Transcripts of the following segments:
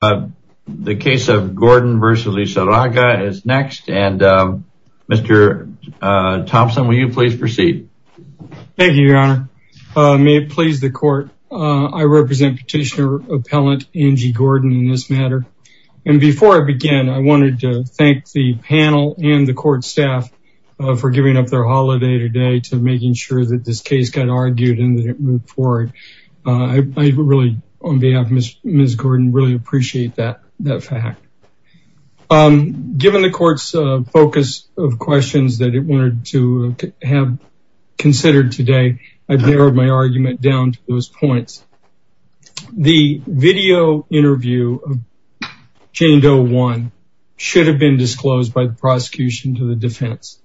The case of Gordon v. Lizarraga is next and Mr. Thompson will you please proceed. Thank you your honor. May it please the court I represent petitioner appellant Angie Gordon in this matter and before I begin I wanted to thank the panel and the court staff for giving up their holiday today to making sure that this case got argued and that it moved forward. I really on behalf of Ms. Gordon really appreciate that that fact. Given the court's focus of questions that it wanted to have considered today I've narrowed my argument down to those points. The video interview of Jane Doe one should have been disclosed by the prosecution to the defense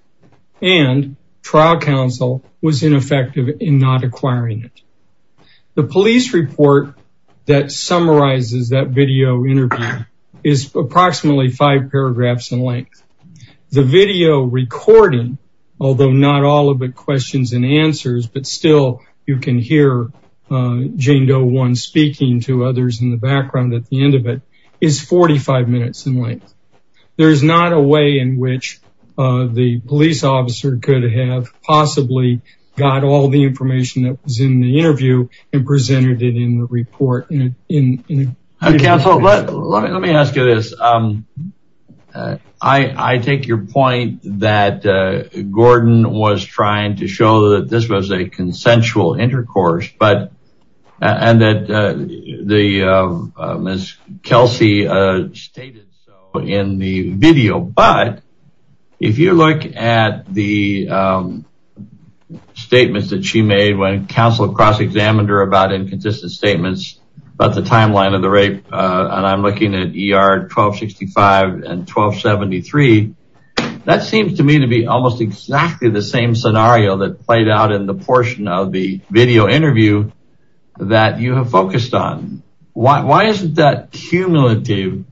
and trial counsel was ineffective in not acquiring it. The police report that summarizes that video interview is approximately five paragraphs in length. The video recording although not all of the questions and answers but still you can hear Jane Doe one speaking to others in the background at the end of it is 45 minutes in length. There is not a way in which the police officer could have possibly got all the information that was in the interview and presented it in the report. Counsel let me ask you this. I take your point that Gordon was trying to show that this was a consensual intercourse but and that the Ms. Kelsey stated so in the video but if you look at the statements that she made when counsel cross-examined her about inconsistent statements about the timeline of the rape and I'm looking at ER 1265 and 1273 that seems to me to be almost exactly the same scenario that played out in the portion of the video interview that you have focused on. Why isn't that cumulative?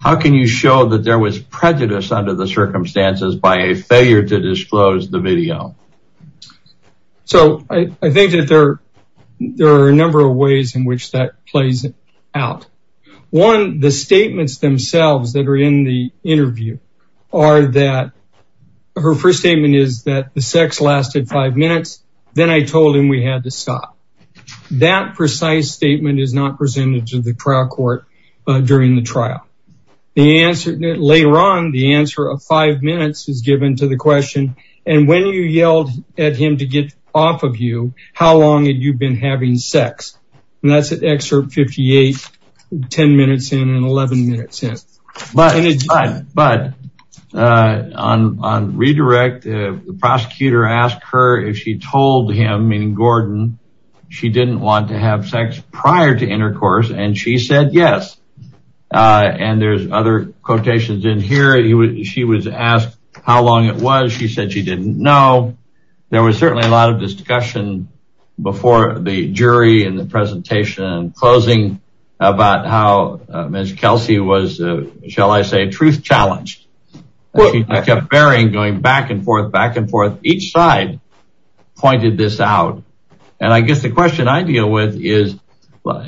How can you show that there was prejudice under the circumstances by a failure to disclose the video? So I think that there there are a number of ways in which that plays out. One the statements themselves that are in the interview are that her first statement is that the sex lasted five minutes then I told him we had to stop. That precise statement is not presented to the trial court during the later on the answer of five minutes is given to the question and when you yelled at him to get off of you how long had you been having sex and that's an excerpt 58 10 minutes in and 11 minutes in. But on redirect the prosecutor asked her if she told him in Gordon she didn't want to have sex prior to intercourse and she said yes and there's other quotations in here he would she was asked how long it was she said she didn't know. There was certainly a lot of discussion before the jury and the presentation and closing about how Ms. Kelsey was shall I say truth challenged. She kept varying going back and forth back and forth each side pointed this out and I guess the question I deal with is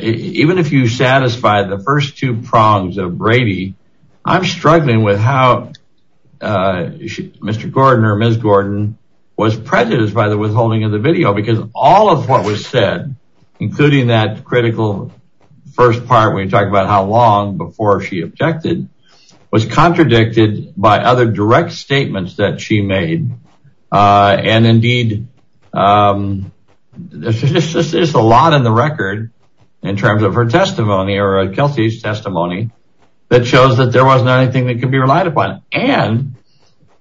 even if you satisfy the first two prongs of Brady I'm struggling with how Mr. Gordon or Ms. Gordon was prejudiced by the withholding of the video because all of what was said including that critical first part we talked about how long before she objected was contradicted by other direct statements that she made and indeed this is a lot in the record in terms of her testimony or a Kelsey's testimony that shows that there wasn't anything that can be relied upon and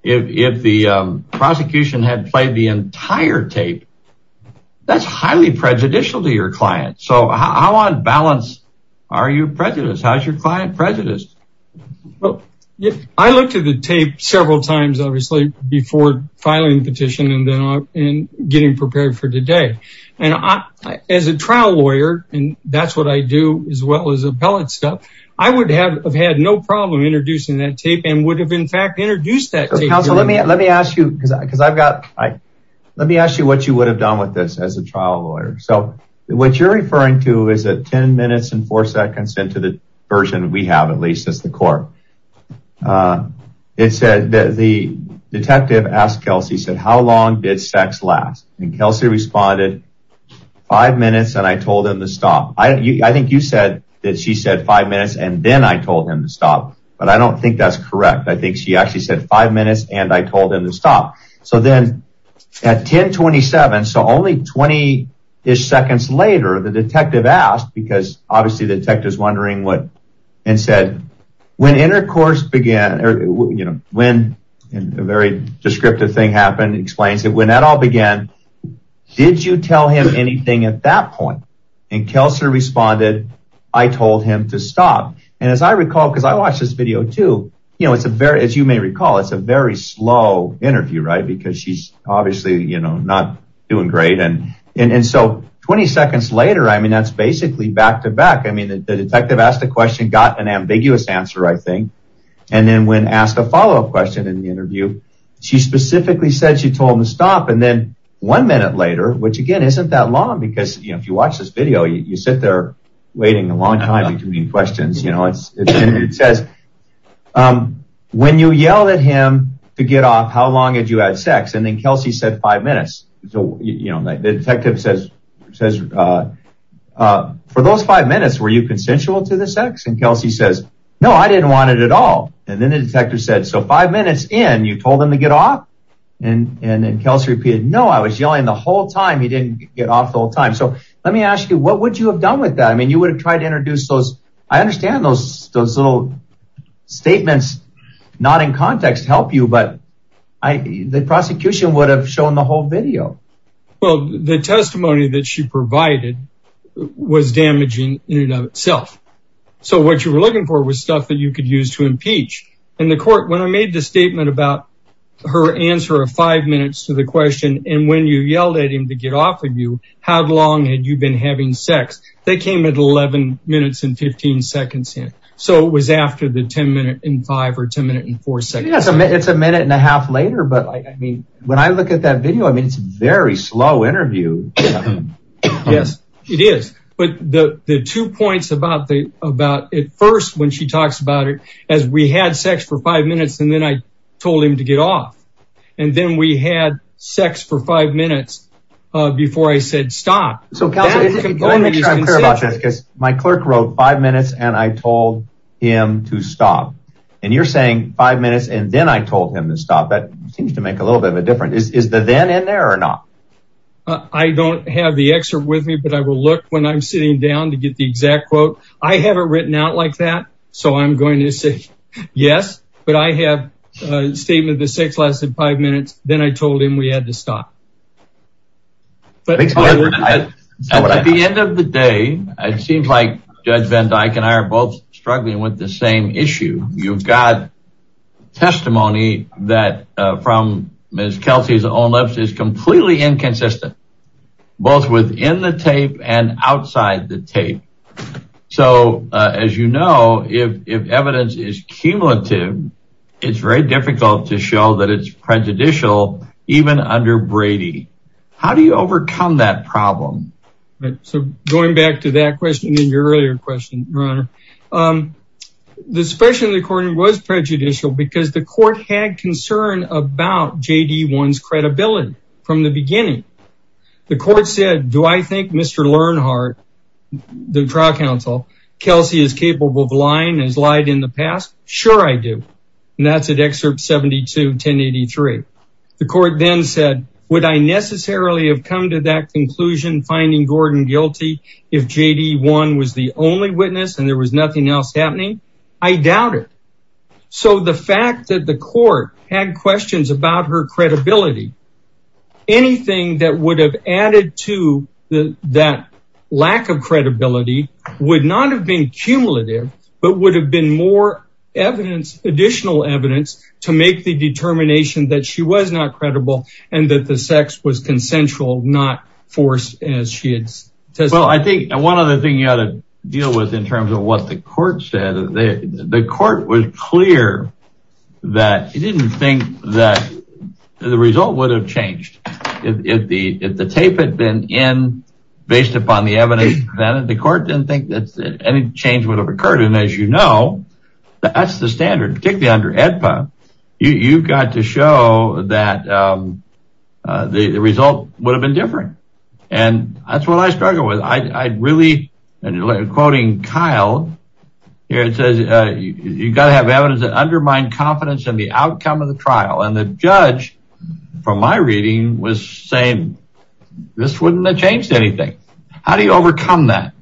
if the prosecution had played the entire tape that's highly prejudicial to your client so how on balance are you prejudiced how's your tape several times obviously before filing petition and then in getting prepared for today and I as a trial lawyer and that's what I do as well as appellate stuff I would have had no problem introducing that tape and would have in fact introduced that counsel let me let me ask you because I because I've got I let me ask you what you would have done with this as a trial lawyer so what you're referring to is that ten minutes and four seconds into the version we have at least as the court it said that the detective asked Kelsey said how long did sex last and Kelsey responded five minutes and I told him to stop I think you said that she said five minutes and then I told him to stop but I don't think that's correct I think she actually said five minutes and I told him to stop so then at 1027 so only 20 ish seconds later the detective asked because obviously the detectives wondering what and said when intercourse began or you know when a very descriptive thing happened explains it when that all began did you tell him anything at that point and Kelsey responded I told him to stop and as I recall because I watch this video too you know it's a very as you may recall it's a very slow interview right because she's obviously you know not doing great and and so 20 seconds later I mean that's basically back to back I mean the detective asked a question got an ambiguous answer I think and then when asked a follow-up question in the interview she specifically said she told him to stop and then one minute later which again isn't that long because you know if you watch this video you sit there waiting a long time between questions you know it's it says when you yell at him to get off how long did you add sex and then Kelsey said five minutes so you know the detective says says for those five minutes were you consensual to the sex and Kelsey says no I didn't want it at all and then the detective said so five minutes in you told him to get off and and then Kelsey repeated no I was yelling the whole time he didn't get off the whole time so let me ask you what would you have done with that I mean you would have tried to introduce those I understand those those little statements not in context help you but I the prosecution would have shown the whole video well the testimony that she provided was damaging in and of itself so what you were looking for was stuff that you could use to impeach and the court when I made the statement about her answer of five minutes to the question and when you yelled at him to get off of you how long had you been having sex they came at 11 minutes and 15 seconds in so it was after the ten minute in five or ten in four seconds it's a minute and a half later but I mean when I look at that video I mean it's very slow interview yes it is but the the two points about the about it first when she talks about it as we had sex for five minutes and then I told him to get off and then we had sex for five minutes before I said stop so my clerk wrote five minutes and I told him to stop and you're saying five minutes and then I told him to stop that seems to make a little bit of a difference is the then in there or not I don't have the excerpt with me but I will look when I'm sitting down to get the exact quote I haven't written out like that so I'm going to say yes but I have a statement the sex lasted five minutes then I told him we had to stop but at the end of the day it seems like judge van Dyck and I are both struggling with the same issue you've got testimony that from miss Kelsey's own lips is completely inconsistent both within the tape and outside the tape so as you know if evidence is cumulative it's very difficult to show that it's prejudicial even under Brady how do you overcome that problem so going back to that question in your earlier question the special recording was prejudicial because the court had concern about JD one's credibility from the beginning the court said do I think mr. Lernhart the trial counsel Kelsey is capable of lying as lied in the past sure I do and that's an excerpt 72 1083 the court then said would I necessarily have come to that witness and there was nothing else happening I doubt it so the fact that the court had questions about her credibility anything that would have added to the that lack of credibility would not have been cumulative but would have been more evidence additional evidence to make the determination that she was not credible and that the sex was consensual not forced as she had I think one other thing you ought to deal with in terms of what the court said the court was clear that he didn't think that the result would have changed if the if the tape had been in based upon the evidence that the court didn't think that any change would have occurred and as you know that's the standard particularly under EDPA you've got to show that the result would have been different and that's what I struggle with I'd really and you're quoting Kyle here it says you gotta have evidence that undermine confidence in the outcome of the trial and the judge from my reading was saying this wouldn't have changed anything how do you overcome that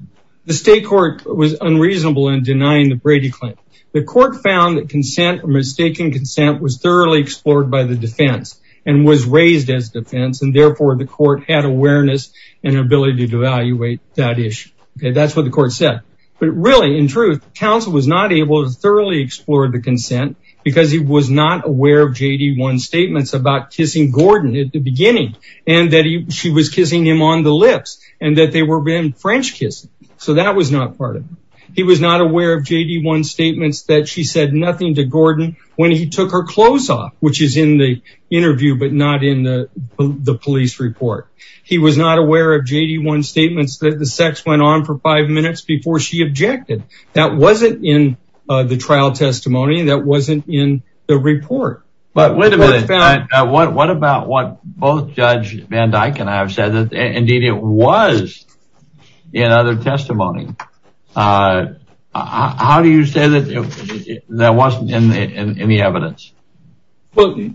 the state court was unreasonable in denying the Brady claim the court found that consent mistaken consent was thoroughly explored by the defense and was raised as defense and therefore the court had awareness and ability to evaluate that issue okay that's what the court said but really in truth counsel was not able to thoroughly explore the consent because he was not aware of JD one statements about kissing Gordon at the beginning and that he she was kissing him on the lips and that they were been French kiss so that was not part of him he was not aware of JD one statements that she said nothing to Gordon when he took her clothes off which is in the interview but not in the police report he was not aware of JD one statements that the sex went on for five minutes before she objected that wasn't in the trial testimony that wasn't in the report but wait a minute what about what both judge Van Dyke and I have said that indeed it was in other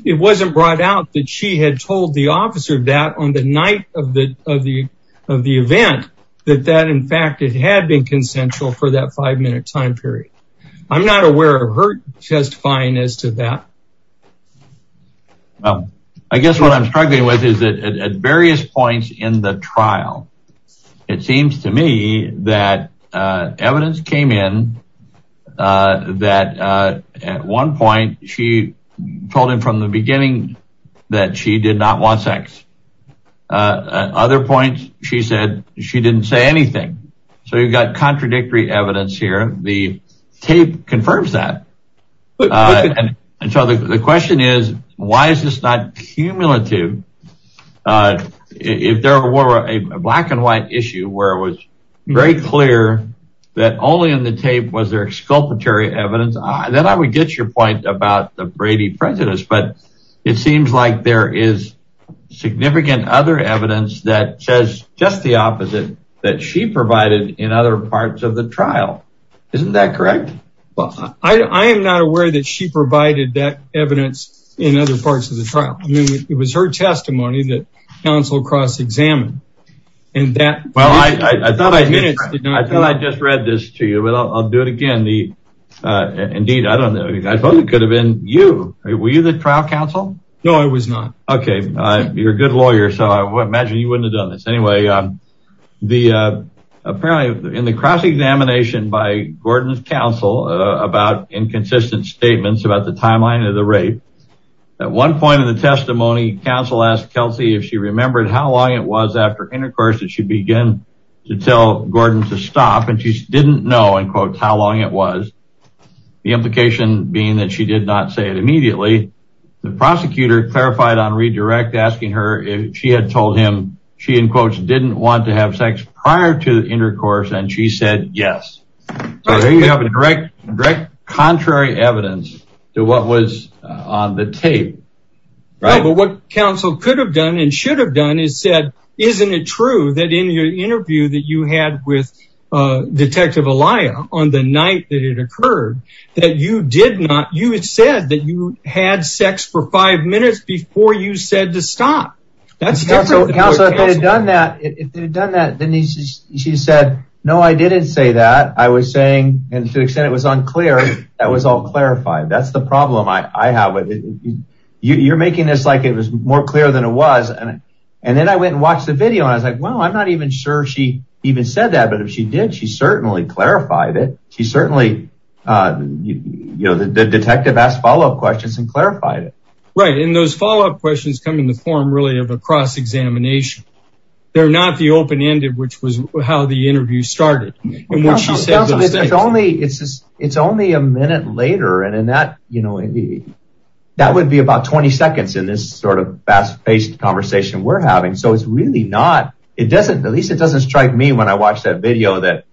it wasn't brought out that she had told the officer that on the night of the of the of the event that that in fact it had been consensual for that five minute time period I'm not aware of her testifying as to that I guess what I'm struggling with is that at various points in the trial it seems to me that evidence came in that at one point she told him from the beginning that she did not want sex other points she said she didn't say anything so you've got contradictory evidence here the tape confirms that and so the question is why is this not cumulative if there were a black-and-white issue where it was very clear that only in the tape was there exculpatory evidence I then I would get your point about the Brady prejudice but it seems like there is significant other evidence that says just the opposite that she provided in other parts of the trial isn't that correct well I am not aware that she provided that evidence in other parts of the trial it was her testimony that counsel cross-examined in that well I thought I just read this to you but I'll do it again the indeed I don't know I thought it could have been you were you the trial counsel no I was not okay you're a good lawyer so I imagine you wouldn't have done this anyway the apparently in the cross-examination by Gordon's counsel about inconsistent statements about the timeline of the rape at one point in the testimony counsel asked Kelsey if she remembered how long it was after intercourse that she began to tell Gordon to stop and she didn't know in quotes how long it was the implication being that she did not say it immediately the prosecutor clarified on redirect asking her if she had told him she in quotes didn't want to have sex prior to intercourse and she said yes there you have a direct direct contrary evidence to what was on the tape right what counsel could have done and should have done is said isn't it true that in your interview that you had with detective Alaya on the night that it occurred that you did not you had said that you had sex for five minutes before you said to stop that's done that she said no I didn't say that I was saying and to the extent it was unclear that was all clarified that's the problem I think it was more clear than it was and and then I went and watched the video I was like well I'm not even sure she even said that but if she did she certainly clarified it she certainly you know the detective asked follow-up questions and clarified it right in those follow-up questions come in the form really of a cross-examination they're not the open-ended which was how the interview started it's only it's just it's only a minute later and in that would be about 20 seconds in this sort of fast-paced conversation we're having so it's really not it doesn't at least it doesn't strike me when I watch that video that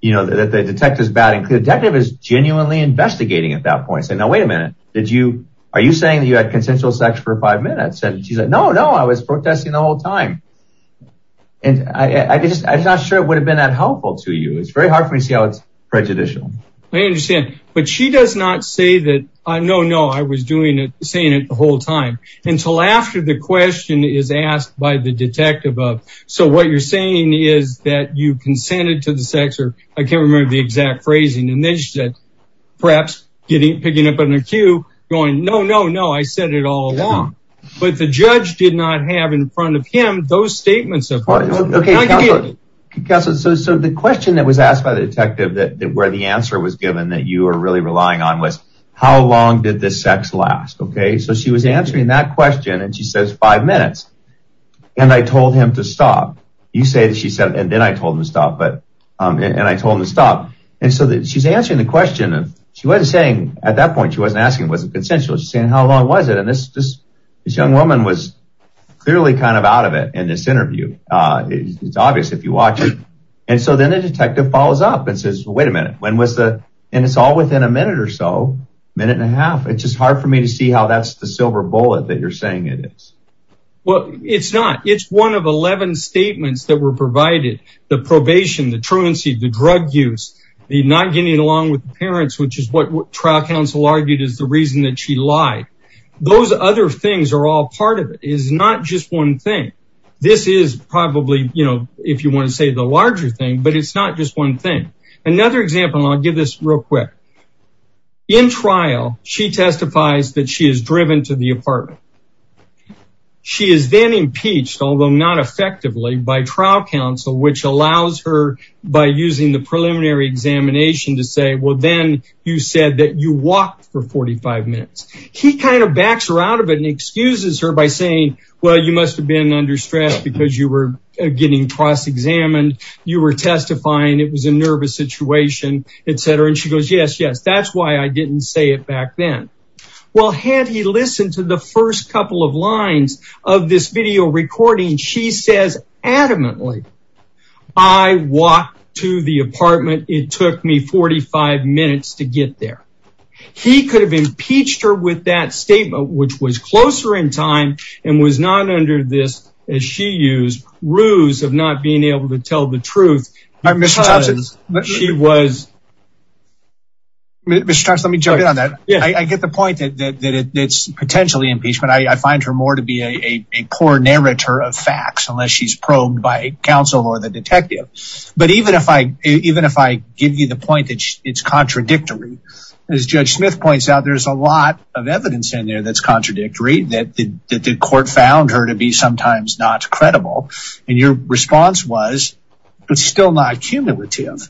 you know that the detectives bad and clear detective is genuinely investigating at that point so now wait a minute did you are you saying that you had consensual sex for five minutes and she's like no no I was protesting the whole time and I just I'm not sure it would have been that helpful to you it's very hard for me to see how it's prejudicial I understand but she does not say that I know no I was doing it saying it the whole time until after the question is asked by the detective of so what you're saying is that you consented to the sex or I can't remember the exact phrasing and then she said perhaps getting picking up on a cue going no no no I said it all along but the judge did not have in front of him those statements apart okay so the question that was asked by the detective that where the answer was given that you were really relying on was how long did this sex last okay so she was answering that question and she says five minutes and I told him to stop you say that she said and then I told him to stop but and I told him to stop and so that she's answering the question of she was saying at that point she wasn't asking was it consensual she's saying how long was it and this this young woman was clearly kind of out of it in this interview it's obvious if you watch it and so then the minute or so minute and a half it's just hard for me to see how that's the silver bullet that you're saying it is well it's not it's one of 11 statements that were provided the probation the truancy the drug use the not getting along with the parents which is what trial counsel argued is the reason that she lied those other things are all part of it is not just one thing this is probably you know if you want to say the larger thing but it's not just one thing another example I'll give this real quick in trial she testifies that she is driven to the apartment she is then impeached although not effectively by trial counsel which allows her by using the preliminary examination to say well then you said that you walked for 45 minutes he kind of backs her out of it and excuses her by saying well you must have been under stress because you were getting cross-examined you were testifying it was a nervous situation etc and she goes yes yes that's why I didn't say it back then well had he listened to the first couple of lines of this video recording she says adamantly I walked to the apartment it took me 45 minutes to get there he could have impeached her with that statement which was closer in time and was not under this as she used ruse of not being able to tell the truth mr. Thompson but she was mr. Thomas let me jump in on that yeah I get the point that it's potentially impeachment I find her more to be a poor narrator of facts unless she's probed by counsel or the detective but even if I even if I give you the point that it's contradictory as judge Smith points out there's a lot of evidence in there that's contradictory that the court found her to be sometimes not credible and your response was it's still not cumulative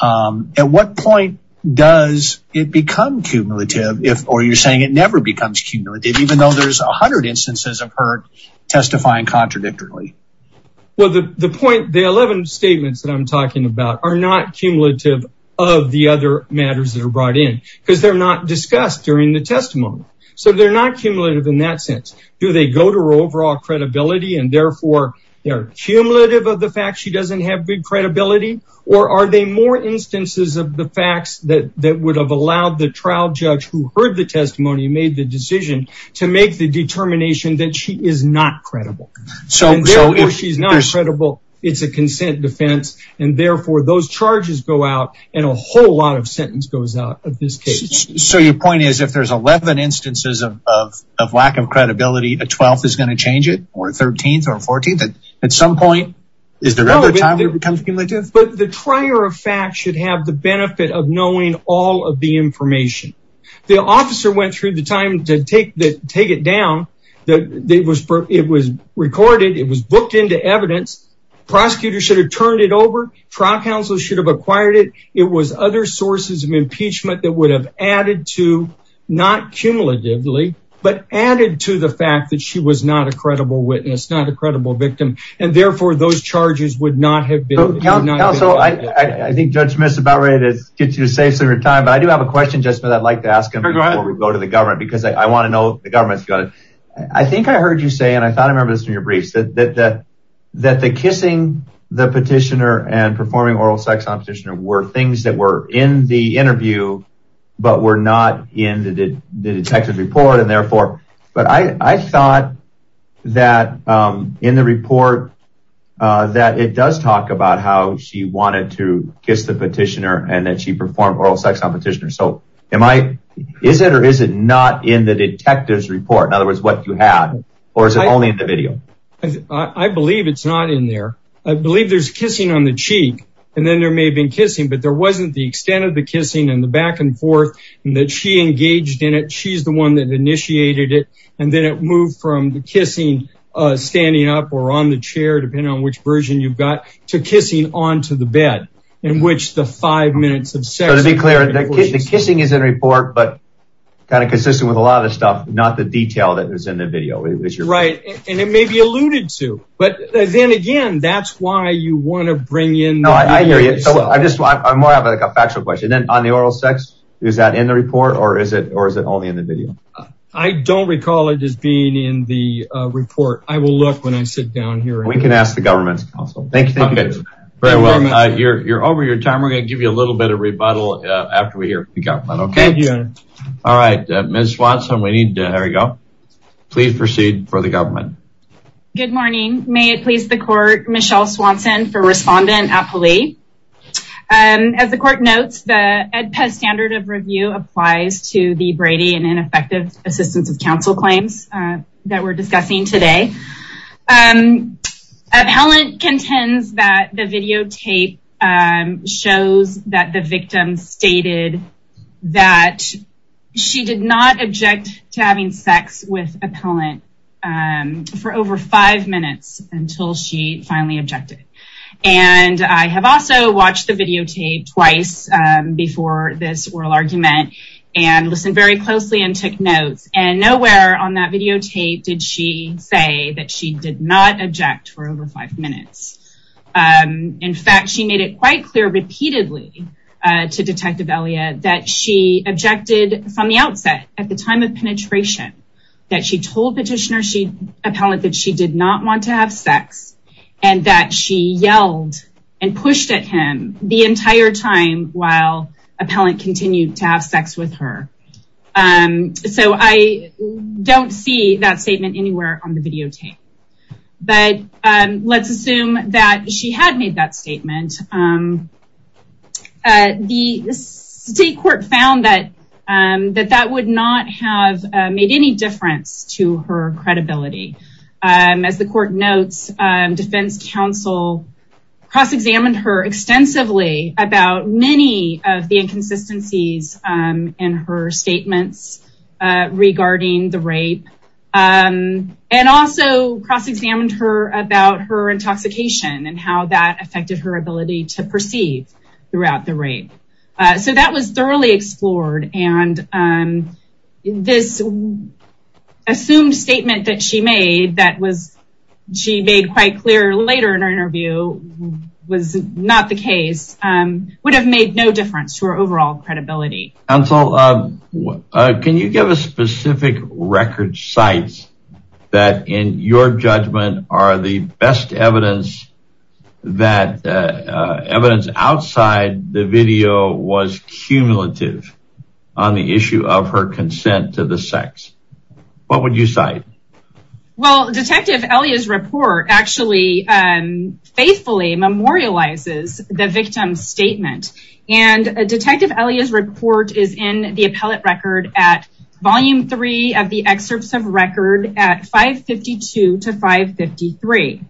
at what point does it become cumulative if or you're saying it never becomes cumulative even though there's a hundred instances of hurt testifying contradictory well the the point the 11 statements that I'm talking about are not cumulative of the other matters that are brought in because they're not discussed during the testimony so they're not cumulative in that sense do they go to her overall credibility and therefore they're cumulative of the fact she doesn't have big credibility or are they more instances of the facts that that would have allowed the trial judge who heard the testimony made the decision to make the determination that she is not credible so she's not credible it's a consent defense and therefore those charges go out and a whole lot of sentence goes out of this case so your point is if there's 11 instances of of lack of credibility a 12th is going to change it or 13th or 14th at some point is there ever a time it becomes cumulative but the trier of fact should have the benefit of knowing all of the information the officer went through the time to take that take it down that it was it was recorded it was booked into evidence prosecutors should have turned it over trial counsel should have acquired it it was other sources of impeachment that would have added to not cumulatively but added to the fact that she was not a credible witness not a credible victim and therefore those charges would not have been so I think judge miss about ready to get you safe so your time but I do have a question just that I'd like to ask him before we go to the government because I want to know the government's got it I think I heard you say and I thought I remember this in your briefs that that that the kissing the petitioner and performing oral sex on petitioner were things that were in the interview but were not in the detective report and therefore but I thought that in the report that it does talk about how she wanted to kiss the petitioner and that she performed oral sex on petitioner so am I is it or is it not in the detectives report in other words what you have or is it only in the video I believe it's not in there I believe there's kissing on the cheek and then there may have been kissing but there wasn't the extent of the kissing and the back-and-forth and that she engaged in it she's the one that initiated it and then it moved from the kissing standing up or on the chair depending on which version you've got to kissing on to the bed in which the five minutes of sex to be clear that the kissing is in report but kind of consistent with a lot of stuff not the detail that was in the video it was your right and it may be alluded to but then again that's why you want to bring in no I hear you so I just want I'm more of a factual question then on the oral sex is that in the report or is it or is it only in the video I don't recall it as being in the report I will look when I sit down here we can ask the government's possible thank you very well you're over your time we're gonna give you a little bit of rebuttal after we hear you got one okay yeah all right miss Watson we need to there we go please proceed for the government good morning may it please the court Michelle Swanson for respondent appellee and as the court notes the Ed Pez standard of review applies to the Brady and ineffective assistance of counsel claims that we're discussing today and appellant contends that the videotape shows that the victim stated that she did not object to having sex with and I have also watched the videotape twice before this oral argument and listened very closely and took notes and nowhere on that videotape did she say that she did not object for over five minutes in fact she made it quite clear repeatedly to detective Elia that she objected from the outset at the time of penetration that she told petitioner she appellant that she did not want to have sex and that she yelled and pushed at him the entire time while appellant continued to have sex with her and so I don't see that statement anywhere on the videotape but let's assume that she had made that statement the state court found that and that that would not have made any difference to her credibility as the court notes defense counsel cross-examined her extensively about many of the inconsistencies in her statements regarding the rape and also cross-examined her about her intoxication and how that affected her ability to perceive throughout the rape so that was thoroughly explored and this assumed statement that she made that was she made quite clear later in her interview was not the case would have made no difference to her overall credibility and so can you give a specific record sites that in your judgment are the best evidence that evidence outside the video was cumulative on the issue of her consent to the sex what would you say well detective Elliot's report actually and faithfully memorializes the victim statement and a detective Elliot's report is in the appellate record at volume 3 of the excerpts of record at 552 to 553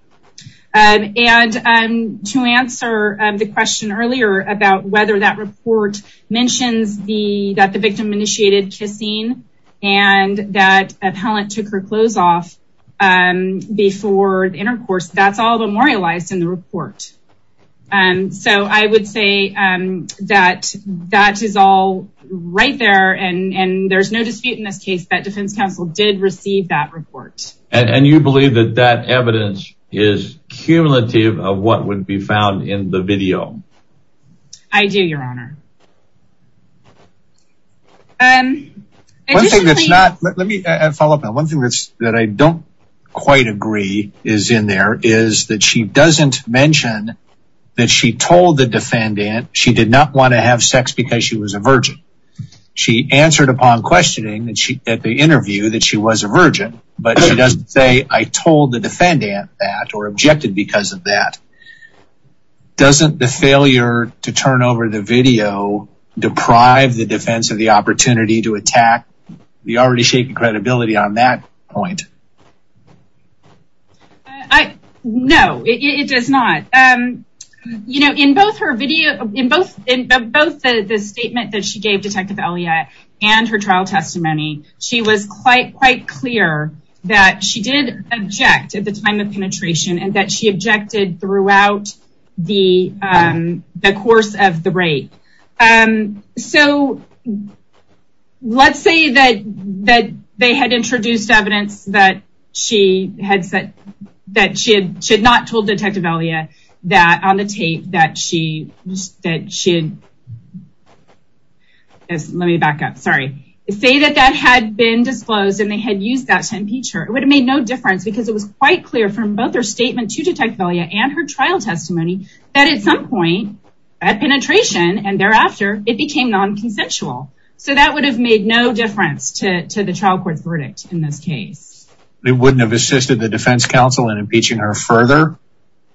and and to answer the question earlier about whether that report mentions the that the victim initiated kissing and that appellant took her clothes off and before the intercourse that's all memorialized in the report and so I would say that that is all right there and and there's no dispute in this case that defense counsel did receive that report and you believe that that evidence is cumulative of what would be found in the video I do your honor one thing that's not let me follow up now one thing that's that I don't quite agree is in there is that she doesn't mention that she told the defendant she did not want to have sex because she was a virgin she answered upon questioning that she at the interview that she was a virgin but she doesn't say I told the defendant that or objected because of that doesn't the failure to turn over the video deprive the defense of the opportunity to attack the already shaken credibility on that point I know it does not you know in both her video in both in both the statement that she gave detective Elliot and her trial testimony she was quite clear that she did object at the time of penetration and that she objected throughout the the course of the rape and so let's say that that they had introduced evidence that she had said that she had should not told detective Elliot that on the tape that she said she let me back up sorry say that that had been disclosed and they had used that to impeach her it would have made no difference because it was quite clear from both her statement to detect value and her trial testimony that at some point at penetration and thereafter it became non-consensual so that would have made no difference to the trial court's verdict in this case they wouldn't have assisted the defense counsel in impeaching her further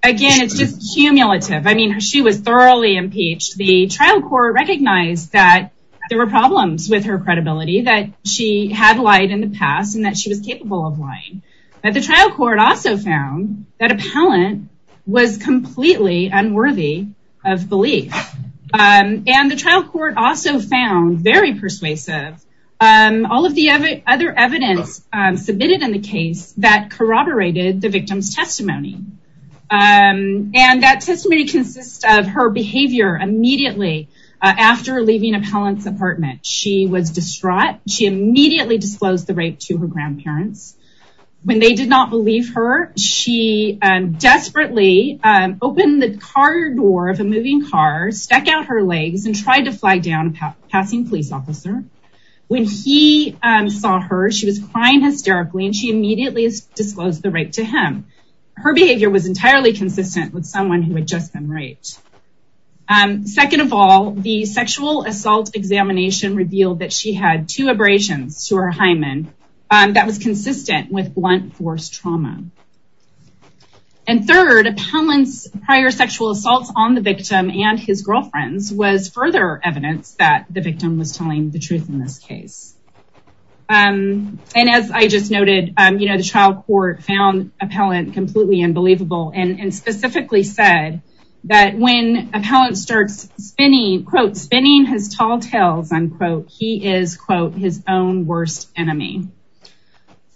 again it's just cumulative I mean she was thoroughly impeached the trial court recognized that there were problems with her had lied in the past and that she was capable of lying but the trial court also found that appellant was completely unworthy of belief and the trial court also found very persuasive and all of the other evidence submitted in the case that corroborated the victim's testimony and that testimony consists of her behavior immediately after leaving appellant's apartment she was distraught she immediately disclosed the rape to her grandparents when they did not believe her she desperately opened the car door of a moving car stuck out her legs and tried to fly down a passing police officer when he saw her she was crying hysterically and she immediately disclosed the rape to him her behavior was entirely consistent with someone who had just been raped and second of all the sexual assault examination revealed that she had two abrasions to her hymen that was consistent with blunt force trauma and third appellants prior sexual assaults on the victim and his girlfriends was further evidence that the victim was telling the truth in this case and as I just noted you know the trial court found appellant completely unbelievable and specifically said that when appellant starts spinning quote spinning his tall tales unquote he is quote his own worst enemy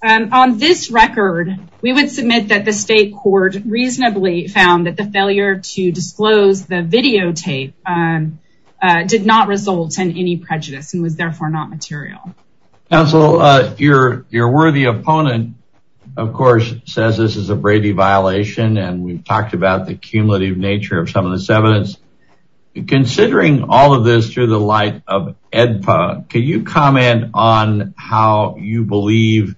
on this record we would submit that the state court reasonably found that the failure to disclose the videotape did not result in any prejudice and was therefore not material counsel your your worthy opponent of course says this is a Brady violation and we've talked about the evidence considering all of this through the light of edpa can you comment on how you believe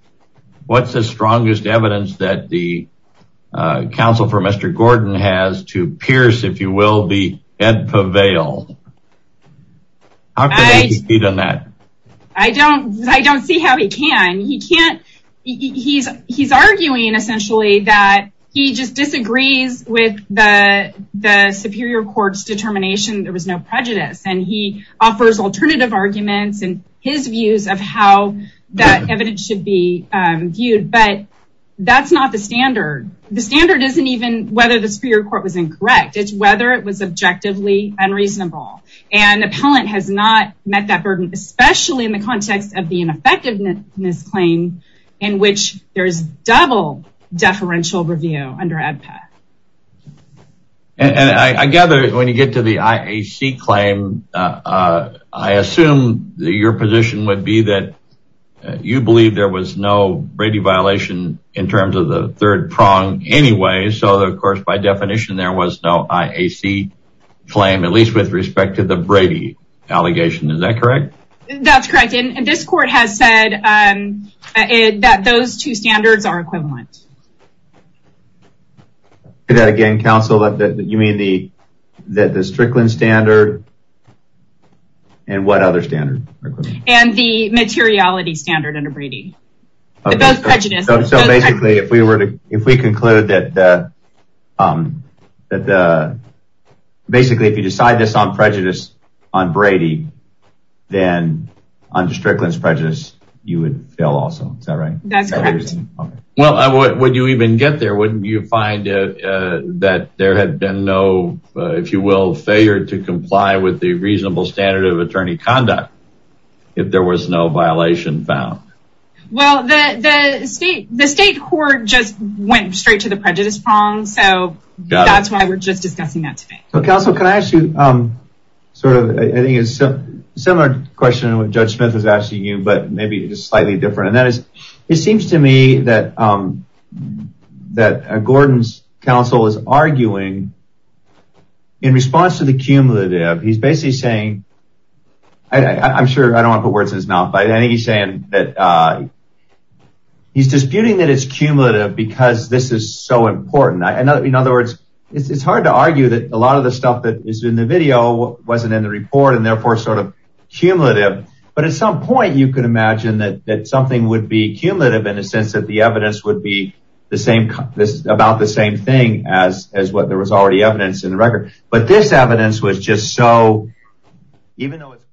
what's the strongest evidence that the counsel for mr. Gordon has to pierce if you will be edpa veil I don't I don't see how he can he can't he's he's arguing essentially that he just disagrees with the Superior Court's determination there was no prejudice and he offers alternative arguments and his views of how that evidence should be viewed but that's not the standard the standard isn't even whether the Superior Court was incorrect it's whether it was objectively unreasonable and appellant has not met that burden especially in the context of the ineffectiveness claim in which there's double deferential review under a path and I gather when you get to the IAC claim I assume that your position would be that you believe there was no Brady violation in terms of the third prong anyway so of course by definition there was no IAC claim at least with respect to the Brady allegation is that correct that's correct and this court has said that those two standards are equivalent that again counsel that you mean the that the Strickland standard and what other standard and the materiality standard under Brady so basically if we were to if we conclude that that basically if you decide this on prejudice on Brady then under Strickland's prejudice you would fail also is that right that's correct well would you even get there wouldn't you find that there had been no if you will failure to comply with the reasonable standard of attorney conduct if there was no violation found well the state the state court just went straight to the prejudice prong so that's why we're just discussing that today so counsel can I ask you sort of I think it's a similar question what judge Smith is asking you but maybe it is slightly different and that is it seems to me that that Gordon's counsel is arguing in response to the cumulative he's basically saying I'm sure I don't put words in his mouth by any he's saying that he's disputing that it's cumulative because this is so important I know in other words it's hard to argue that a lot of the stuff that is in the video wasn't in the report and therefore sort of cumulative but at some point you could imagine that that something would be cumulative in a sense that the evidence would be the same about the same thing as as what there was already evidence in the record but this evidence was just so even though it's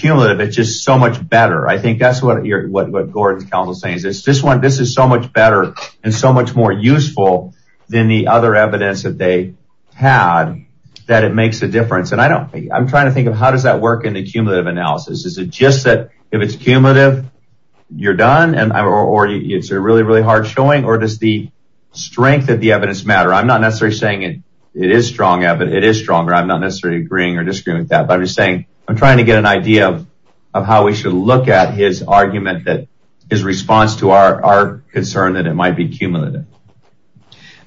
cumulative it's just so much better I think that's what you're what Gordon's counsel saying is this this one this is so much better and so much more useful than the other evidence that they had that it makes a difference and I don't think I'm trying to think of how does that work in the cumulative analysis is it just that if it's cumulative you're done and I already it's a really really hard showing or does the strength that the evidence matter I'm not necessarily saying it it is strong of it it is stronger I'm not necessarily agreeing or disagreeing with that but I'm just saying I'm trying to get an idea of how we should look at his argument that his response to our concern that it might be cumulative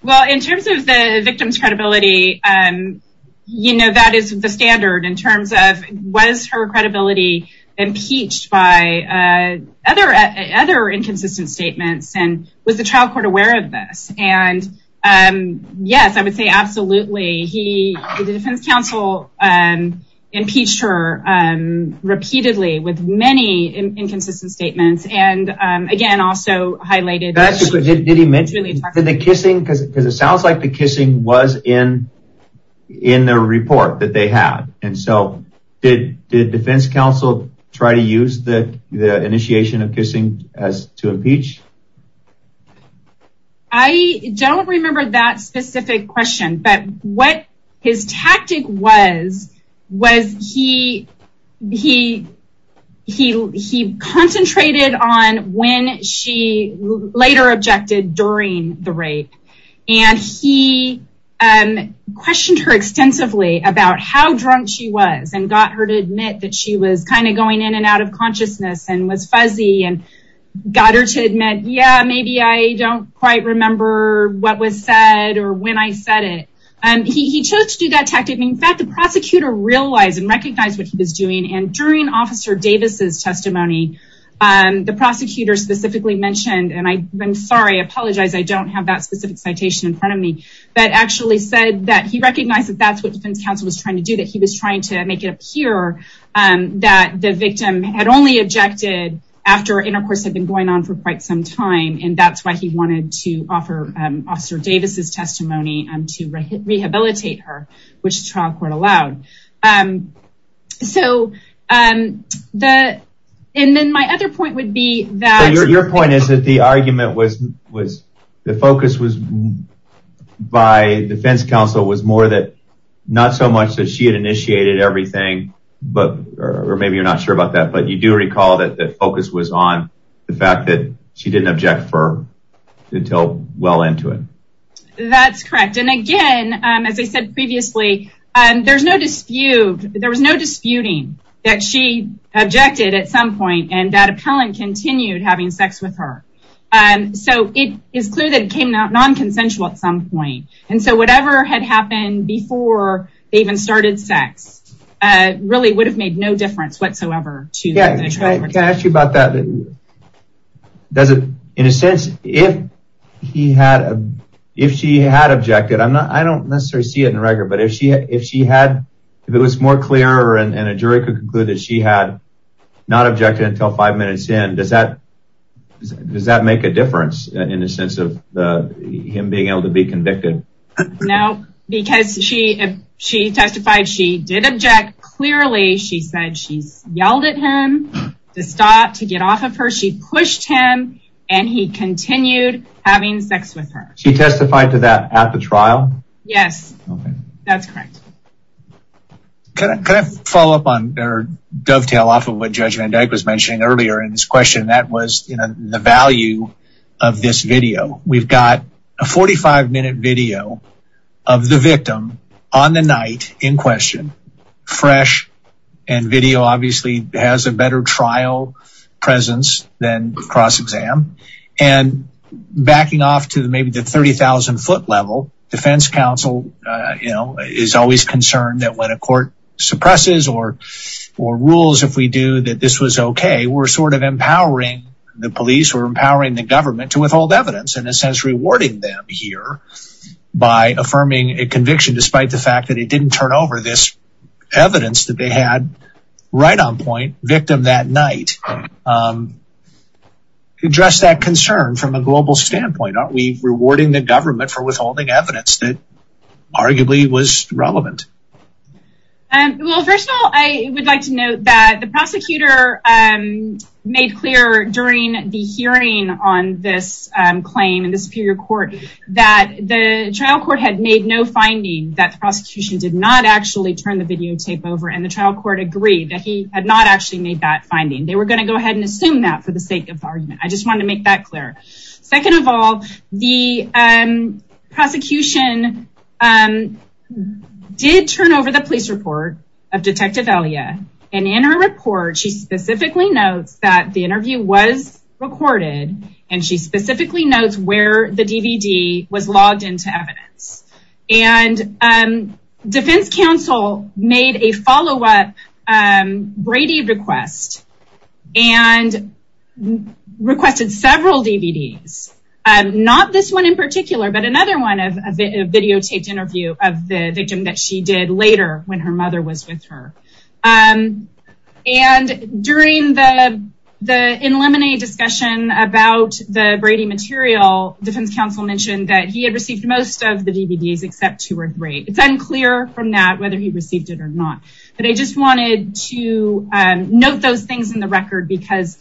well in terms of the victim's credibility and you know that is the standard in terms of was her credibility impeached by other other inconsistent statements and was the trial court aware of this and yes I would say absolutely he the defense counsel and impeached her repeatedly with many inconsistent statements and again also highlighted that's what it did he mention the kissing because it sounds like the kissing was in in the report that they have and so did the defense counsel try to use the initiation of kissing as to impeach I don't remember that specific question but what his tactic was was he he he he concentrated on when she later objected during the rape and he questioned her extensively about how drunk she was and got her to admit that she was kind of going in and out of consciousness and was fuzzy and got her to admit yeah maybe I don't quite remember what was said or when I said it and he chose to do that tactic in fact the prosecutor realized and recognized what he was doing and during officer Davis's testimony and the prosecutor specifically mentioned and I'm sorry apologize I don't have that specific citation in front of me that actually said that he recognized that that's what defense counsel was trying to do that he was trying to make it appear and that the victim had only objected after intercourse had been going on for quite some time and that's why he wanted to offer officer Davis's testimony and to rehabilitate her which trial court allowed and so that and then my other point would be that your point is that the argument was was the focus was by defense counsel was more that not so much that she had initiated everything but or maybe you're not sure about that but you do recall that that focus was on the fact that she didn't object for until well into it. That's correct and again as I said previously and there's no dispute there was no disputing that she objected at some point and that appellant continued having sex with her and so it is clear that it came out non-consensual at some point and so whatever had happened before they even started sex really would have made no difference whatsoever. Can I ask you about that does it in a sense if he had a if she had objected I'm not I don't necessarily see it in record but if she if she had if it was more clear and a jury could conclude that she had not objected until five minutes in does that does that make a difference in a sense of him being able to be convicted? No because she she testified she did object clearly she said she's yelled at him to get off of her she pushed him and he continued having sex with her. She testified to that at the trial? Yes that's correct. Can I follow up on their dovetail off of what Judge Van Dyke was mentioning earlier in this question that was you know the value of this video we've got a 45 minute video of the victim on the night in question fresh and video obviously has a better trial presence than cross-exam and backing off to the maybe the 30,000 foot level defense counsel you know is always concerned that when a court suppresses or or rules if we do that this was okay we're sort of empowering the police or empowering the government to withhold evidence in a sense rewarding them here by affirming a conviction despite the fact that it didn't turn over this right-on point victim that night address that concern from a global standpoint aren't we rewarding the government for withholding evidence that arguably was relevant? Well first of all I would like to note that the prosecutor made clear during the hearing on this claim in the Superior Court that the trial court had made no finding that the prosecution did not actually turn the videotape over and the trial court agreed that he had not actually made that finding they were going to go ahead and assume that for the sake of argument I just want to make that clear. Second of all the prosecution did turn over the police report of Detective Elia and in her report she specifically notes that the interview was recorded and she specifically notes where the DVD was made a follow-up Brady request and requested several DVDs and not this one in particular but another one of a videotaped interview of the victim that she did later when her mother was with her and during the the in lemonade discussion about the Brady material defense counsel mentioned that he had received most of the DVDs except two were great it's unclear from that whether he received it or not but I just wanted to note those things in the record because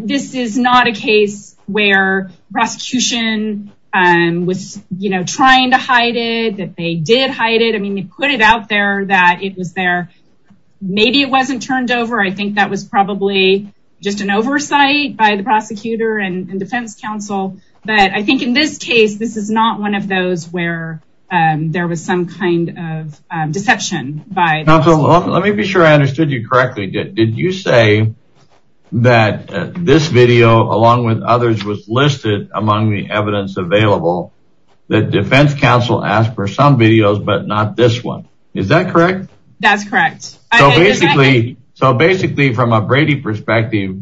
this is not a case where prosecution was you know trying to hide it that they did hide it I mean they put it out there that it was there maybe it wasn't turned over I think that was probably just an oversight by the prosecutor and defense counsel but I think in this case this is not one of those where there was some kind of deception by let me be sure I understood you correctly did you say that this video along with others was listed among the evidence available that defense counsel asked for some videos but not this one is that correct that's correct so basically so basically from a Brady perspective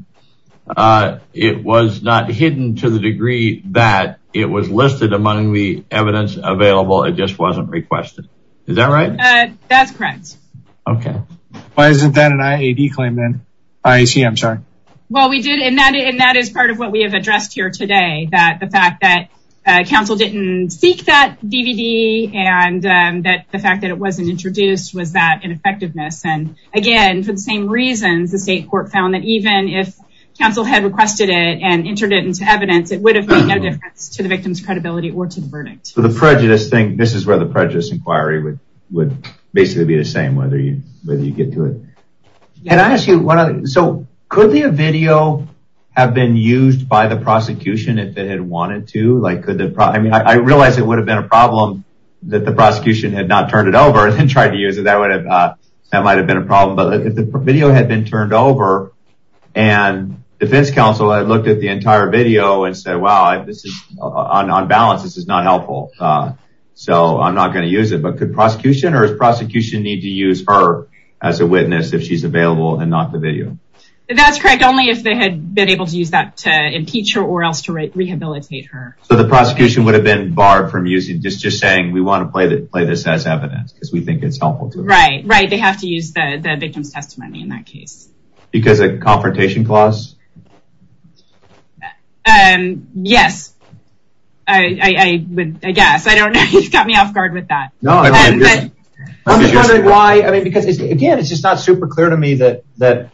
it was not hidden to the degree that it was listed among the evidence available it just wasn't requested is that right that's correct okay why isn't that an IAD claim then I see I'm sorry well we did in that and that is part of what we have addressed here today that the fact that counsel didn't seek that DVD and that the fact that it wasn't introduced was that ineffectiveness and again for the same reasons the state court found that even if counsel had requested it and entered it into evidence it would have made no credibility or to the verdict so the prejudice thing this is where the prejudice inquiry would would basically be the same whether you whether you get to it and I ask you what so could be a video have been used by the prosecution if they had wanted to like could they probably I mean I realize it would have been a problem that the prosecution had not turned it over and tried to use it that would have that might have been a problem but if the video had been turned over and defense counsel I looked at the entire video and said wow this is on balance this is not helpful so I'm not going to use it but could prosecution or is prosecution need to use her as a witness if she's available and not the video that's correct only if they had been able to use that to impeach her or else to write rehabilitate her so the prosecution would have been barred from using just just saying we want to play that play this as evidence because we think it's helpful to right right they have to use the victim's testimony in that case because a confrontation clause and yes I I guess I don't know he's got me off guard with that no I mean because again it's just not super clear to me that that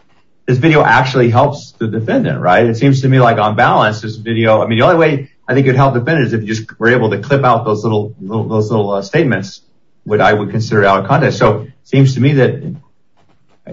this video actually helps the defendant right it seems to me like on balance this video I mean the only way I think it helped defendants if you just were able to clip out those little little statements what I would consider out of context so seems to me that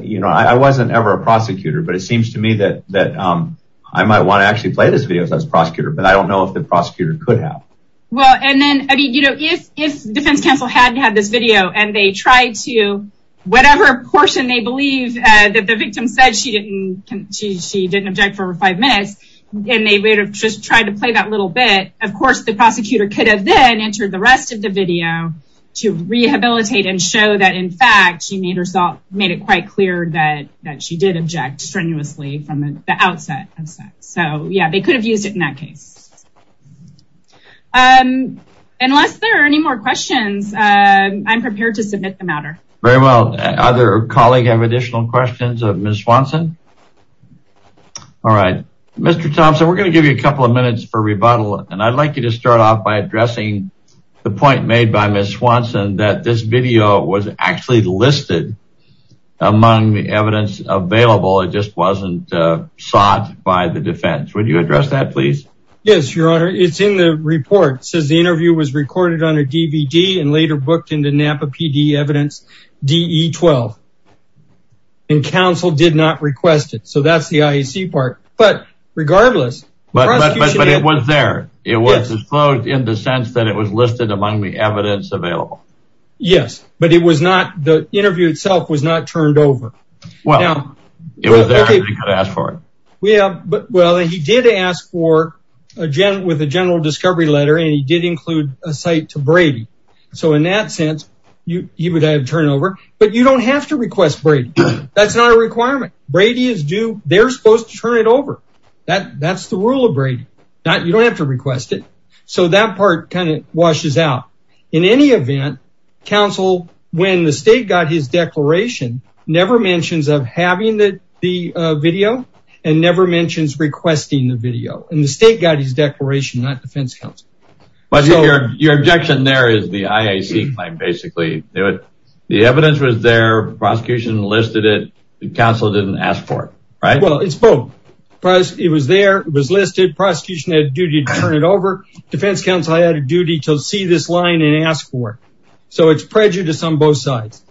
you know I wasn't ever a prosecutor but it seems to me that that I might want to actually play this video as a prosecutor but I don't know if the prosecutor could have well and then I mean you know if if defense counsel hadn't had this video and they tried to whatever portion they believe that the victim said she didn't she didn't object for five minutes and they would have just tried to play that little bit of course the prosecutor could have then entered the rest of the and show that in fact she made herself made it quite clear that that she did object strenuously from the outset of sex so yeah they could have used it in that case unless there are any more questions I'm prepared to submit the matter very well other colleague have additional questions of Miss Swanson all right Mr. Thompson we're gonna give you a couple of minutes for rebuttal and I'd like you to start off by addressing the point made by Miss Swanson that this video was actually listed among the evidence available it just wasn't sought by the defense would you address that please yes your honor it's in the report says the interview was recorded on a DVD and later booked into Napa PD evidence de 12 and counsel did not request it so that's the IEC part but regardless but it was there it was in the sense that it was listed among the evidence available yes but it was not the interview itself was not turned over well yeah it was there we could ask for it we have but well he did ask for a gen with a general discovery letter and he did include a site to Brady so in that sense you he would have turned over but you don't have to request Brady that's not a requirement Brady is do they're supposed to turn it over that that's the rule of Brady not you don't have to request it so that part kind of pushes out in any event counsel when the state got his declaration never mentions of having that the video and never mentions requesting the video and the state got his declaration not defense comes but your objection there is the IAC might basically do it the evidence was there prosecution listed it the council didn't ask for it right well it's both but it was there it was listed duty to turn it over defense counsel I had a duty to see this line and ask for so it's prejudice on both sides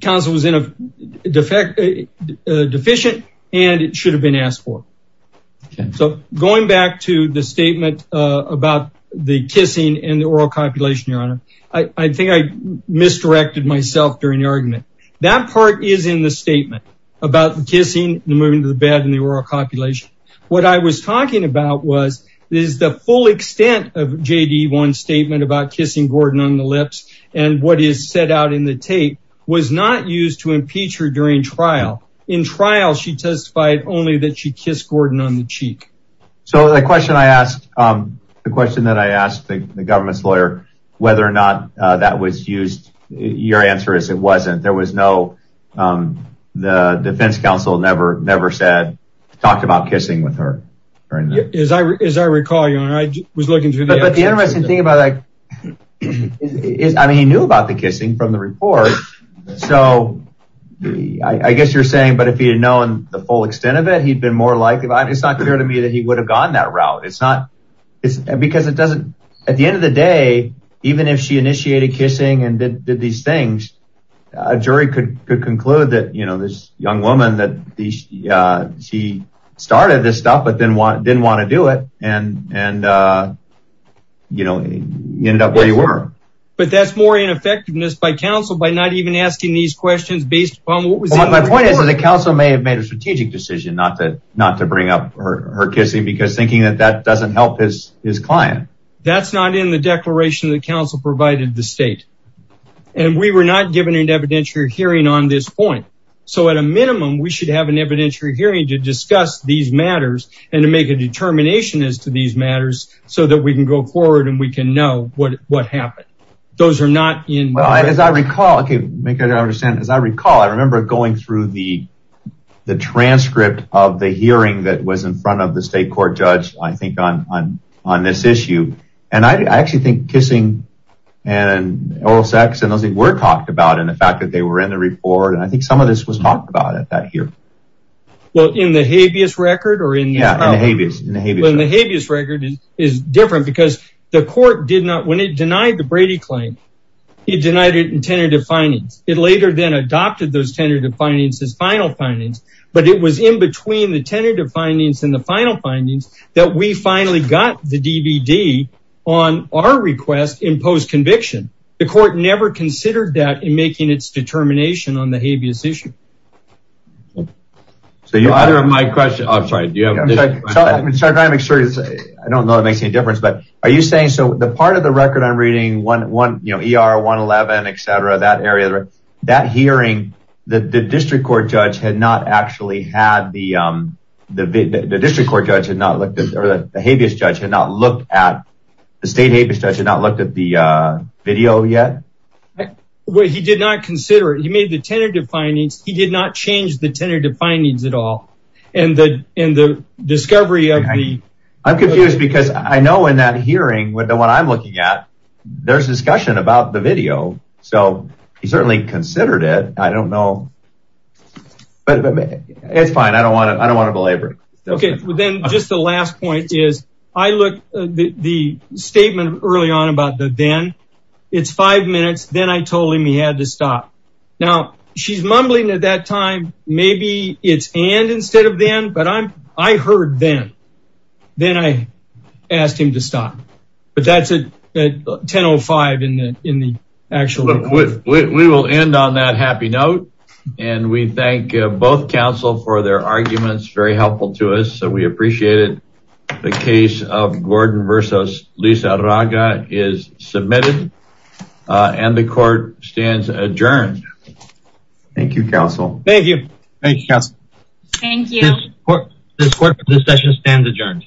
council was in a defect a deficient and it should have been asked for so going back to the statement about the kissing and the oral copulation your honor I think I misdirected myself during the argument that part is in the statement about the kissing the moving to the bed and the out was this is the full extent of JD one statement about kissing Gordon on the lips and what is set out in the tape was not used to impeach her during trial in trial she testified only that she kissed Gordon on the cheek so the question I asked the question that I asked the government's lawyer whether or not that was used your answer is it wasn't there was no the defense counsel never never said talked about kissing with her as I recall you and I was looking through the interesting thing about like is I mean he knew about the kissing from the report so I guess you're saying but if he had known the full extent of it he'd been more likely it's not clear to me that he would have gone that route it's not it's because it doesn't at the end of the day even if she initiated kissing and did these things a jury could conclude that you know this young woman that she started this stuff but then what didn't want to do it and and you know you ended up where you were but that's more ineffectiveness by counsel by not even asking these questions based upon what was my point is that the council may have made a strategic decision not to not to bring up her kissing because thinking that that doesn't help his his client that's not in the declaration of the council provided the state and we were not given an evidentiary hearing on this point so at a minimum we should have an evidentiary hearing to discuss these matters and to make a determination as to these matters so that we can go forward and we can know what what happened those are not in well as I recall okay make it I understand as I recall I remember going through the the transcript of the hearing that was in front of the state court judge I think on on on this issue and I actually think kissing and oral sex and those things were talked about in the fact that they were in the report and I think some of this was talked about at that here well in the habeas record or in the habeas record is different because the court did not when it denied the Brady claim he denied it in tentative findings it later then adopted those tentative findings as final findings but it was in between the tentative findings and the final findings that we finally got the request in post conviction the court never considered that in making its determination on the habeas issue so you either of my question I'm sorry do you have an extra I don't know it makes any difference but are you saying so the part of the record I'm reading one one you know er 111 etc that area that hearing that the district court judge had not actually had the the district court judge had not looked at or the habeas judge had not looked at the state habeas judge had not looked at the video yet well he did not consider it he made the tentative findings he did not change the tentative findings at all and the in the discovery of me I'm confused because I know in that hearing with the one I'm looking at there's discussion about the video so he certainly considered it I don't know but it's fine I don't want it I don't want to belabor okay well then just the last point is I look the statement early on about the then it's five minutes then I told him he had to stop now she's mumbling at that time maybe it's and instead of then but I'm I heard then then I asked him to stop but that's a 1005 in the in the actual we will end on that happy note and we thank both counsel for their arguments very helpful to us so we appreciated the case of Gordon versus Lisa Raga is submitted and the court stands adjourned thank you counsel thank you thank you thank you this session stands adjourned